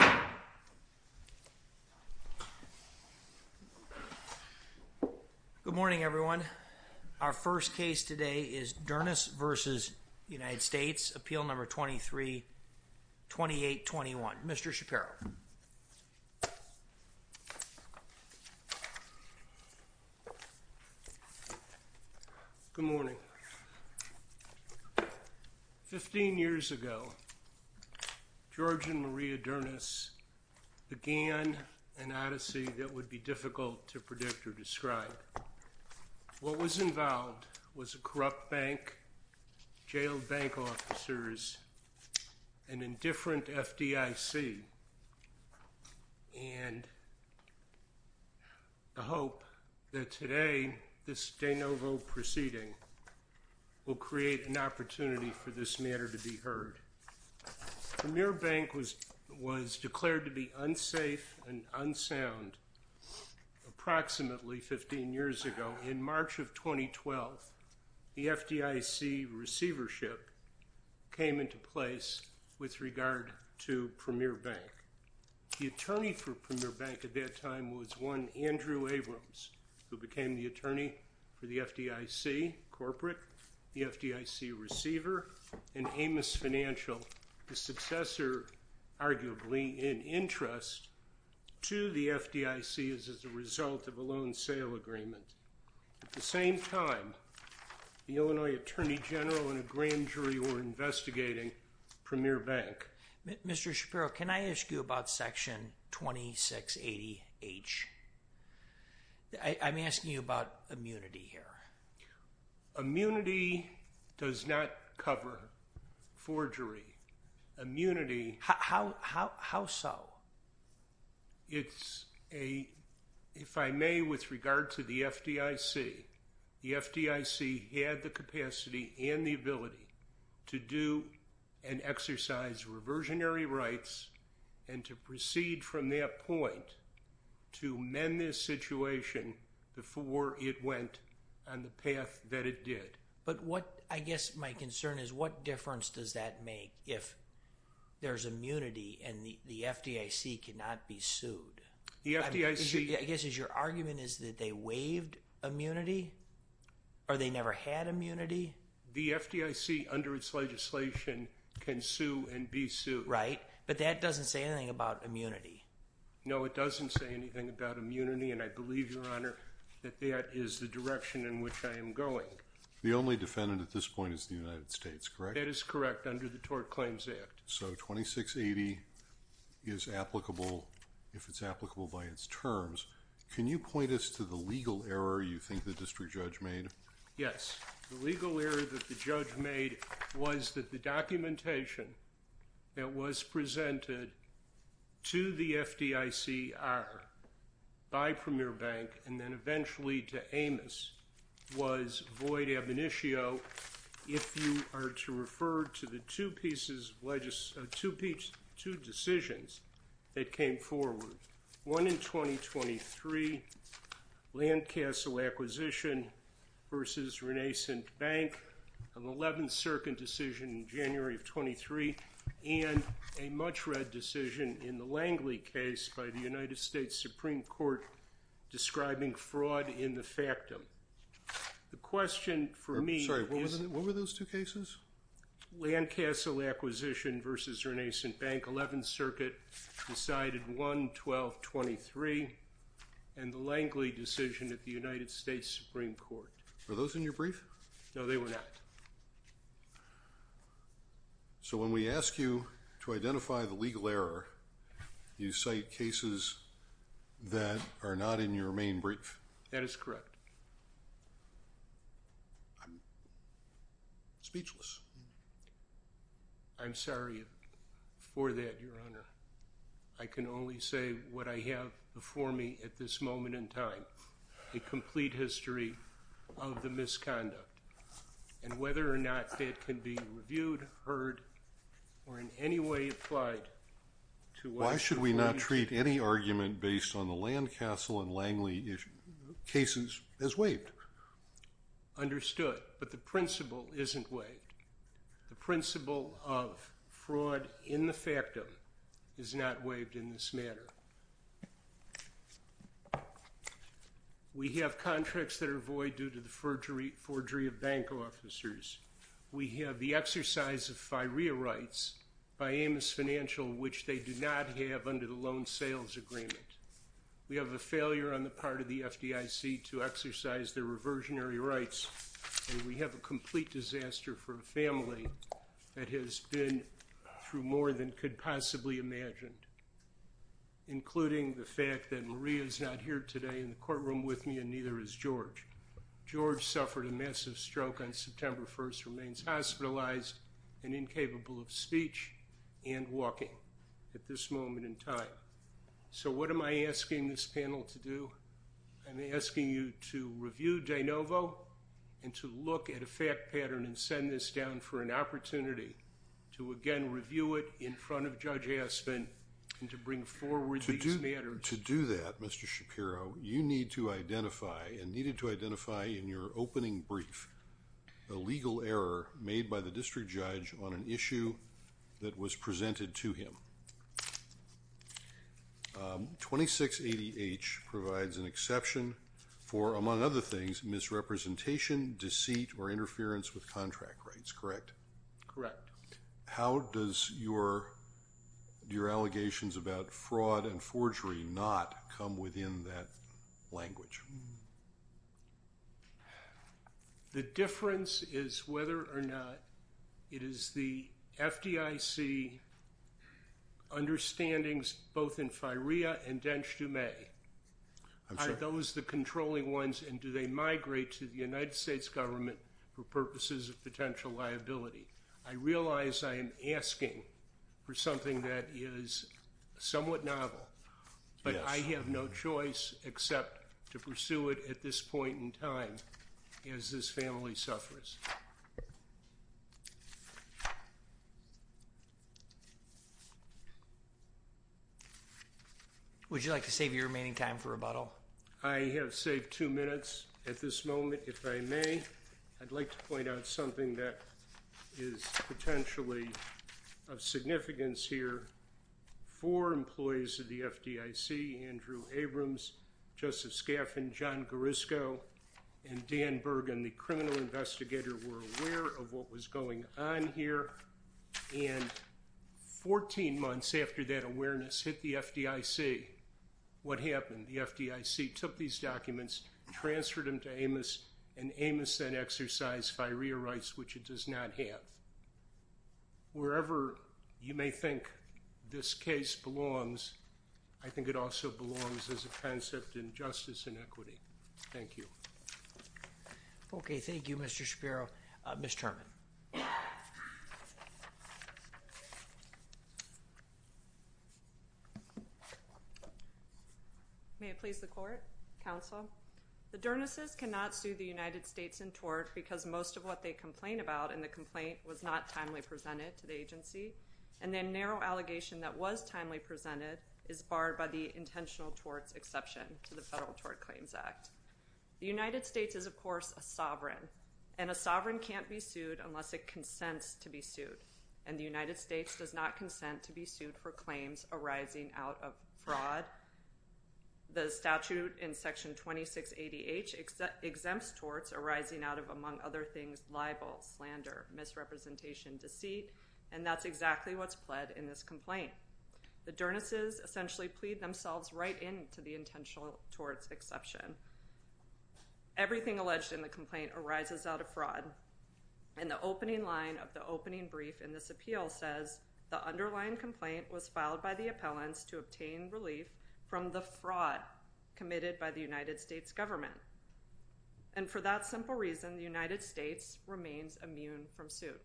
Appeal No. 23-2821. Mr. Shapiro. Good morning. Fifteen years ago, George and Maria Dernis began an odyssey that would be difficult to predict or describe. What was involved was a corrupt bank, jailed bank officers, an indifferent FDIC, and the hope that today, this de novo proceeding will create an opportunity for this matter to be heard. Premier Bank was declared to be unsafe and unsound approximately 15 years ago. In March of 2012, the FDIC receivership came into place with regard to Premier Bank. The attorney for Premier Bank at that time was one Andrew Abrams, who became the attorney for the FDIC corporate, the FDIC receiver, and Amos Financial, the successor arguably in interest to the FDIC as a result of a loan sale agreement. At the same time, the Illinois Attorney General and a grand jury were investigating Premier Bank. Mr. Shapiro, can I ask you about Section 2680H? I'm asking you about immunity here. Immunity does not cover forgery. Immunity – How so? It's a – if I may, with regard to the FDIC, the FDIC had the capacity and the ability to do and exercise reversionary rights and to proceed from that point to mend this situation before it went on the path that it did. But what – I guess my concern is what difference does that make if there's immunity and the FDIC cannot be sued? The FDIC – I guess your argument is that they waived immunity or they never had immunity? The FDIC, under its legislation, can sue and be sued. Right, but that doesn't say anything about immunity. No, it doesn't say anything about immunity, and I believe, Your Honor, that that is the direction in which I am going. The only defendant at this point is the United States, correct? That is correct, under the Tort Claims Act. So 2680 is applicable if it's applicable by its terms. Can you point us to the legal error you think the district judge made? Yes, the legal error that the judge made was that the documentation that was presented to the FDICR by Premier Bank and then eventually to Amos was void ab initio if you are to refer to the two pieces of – two decisions that came forward. One in 2023, Landcastle Acquisition v. Renaissance Bank, an 11th Circuit decision in January of 23, and a much-read decision in the Langley case by the United States Supreme Court describing fraud in the factum. The question for me is – Sorry, what were those two cases? Landcastle Acquisition v. Renaissance Bank, 11th Circuit, decided 1-12-23, and the Langley decision at the United States Supreme Court. Were those in your brief? No, they were not. So when we ask you to identify the legal error, you cite cases that are not in your main brief. That is correct. I'm speechless. I'm sorry for that, Your Honor. I can only say what I have before me at this moment in time, a complete history of the misconduct, and whether or not that can be reviewed, heard, or in any way applied to us. Why should we not treat any argument based on the Landcastle and Langley cases as waived? Understood, but the principle isn't waived. The principle of fraud in the factum is not waived in this manner. We have contracts that are void due to the forgery of bank officers. We have the exercise of FIREA rights by Amos Financial, which they do not have under the loan sales agreement. We have a failure on the part of the FDIC to exercise their reversionary rights, and we have a complete disaster for a family that has been through more than could possibly imagine, including the fact that Maria is not here today in the courtroom with me, and neither is George. George suffered a massive stroke on September 1st, remains hospitalized and incapable of speech and walking at this moment in time. So what am I asking this panel to do? I'm asking you to review de novo and to look at a fact pattern and send this down for an opportunity to, again, review it in front of Judge Aspin and to bring forward these matters. And to do that, Mr. Shapiro, you need to identify and needed to identify in your opening brief a legal error made by the district judge on an issue that was presented to him. 2680H provides an exception for, among other things, misrepresentation, deceit, or interference with contract rights, correct? Correct. How does your allegations about fraud and forgery not come within that language? The difference is whether or not it is the FDIC understandings both in FIREA and DENJDUME. Are those the controlling ones, and do they migrate to the United States government for purposes of potential liability? I realize I am asking for something that is somewhat novel, but I have no choice except to pursue it at this point in time as this family suffers. Would you like to save your remaining time for rebuttal? I have saved two minutes at this moment, if I may. I'd like to point out something that is potentially of significance here. Four employees of the FDIC, Andrew Abrams, Joseph Scaffin, John Garisco, and Dan Bergen, the criminal investigator, were aware of what was going on here. And 14 months after that awareness hit the FDIC, what happened? The FDIC took these documents, transferred them to Amos, and Amos then exercised FIREA rights, which it does not have. Wherever you may think this case belongs, I think it also belongs as a concept in justice and equity. Thank you. Okay, thank you, Mr. Shapiro. Ms. Terman. May it please the Court, Counsel? The Dernesses cannot sue the United States in tort because most of what they complain about in the complaint was not timely presented to the agency, and their narrow allegation that was timely presented is barred by the intentional torts exception to the Federal Tort Claims Act. The United States is, of course, a sovereign, and a sovereign can't be sued unless it consents to be sued, and the United States does not consent to be sued for claims arising out of fraud. The statute in Section 2680H exempts torts arising out of, among other things, libel, slander, misrepresentation, deceit, and that's exactly what's pled in this complaint. The Dernesses essentially plead themselves right in to the intentional torts exception. Everything alleged in the complaint arises out of fraud, and the opening line of the opening brief in this appeal says, the underlying complaint was filed by the appellants to obtain relief from the fraud committed by the United States government, and for that simple reason, the United States remains immune from suit.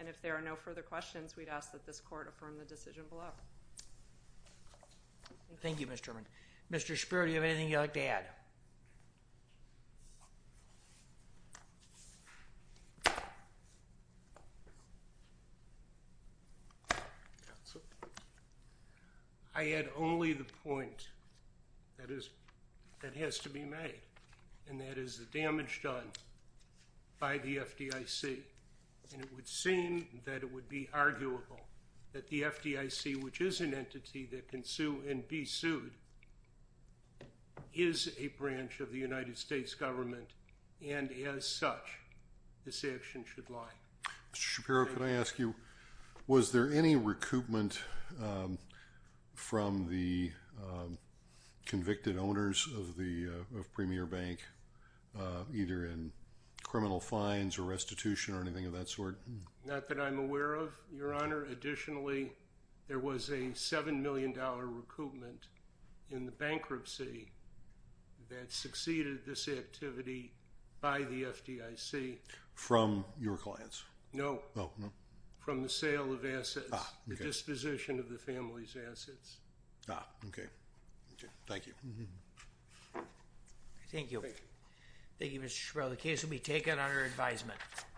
And if there are no further questions, we'd ask that this court affirm the decision below. Thank you, Ms. German. Mr. Schapiro, do you have anything you'd like to add? I had only the point that has to be made, and that is the damage done by the FDIC, and it would seem that it would be arguable that the FDIC, which is an entity that can sue and be sued, is a branch of the United States government, and as such, this action should lie. Mr. Schapiro, can I ask you, was there any recoupment from the convicted owners of Premier Bank, either in criminal fines or restitution or anything of that sort? Not that I'm aware of, Your Honor. Additionally, there was a $7 million recoupment in the bankruptcy that succeeded this activity by the FDIC. From your clients? No. Oh, no. From the sale of assets. Ah, okay. The disposition of the family's assets. Ah, okay. Okay. Thank you. Thank you. Thank you. Thank you, Mr. Schapiro. The case will be taken under advisement.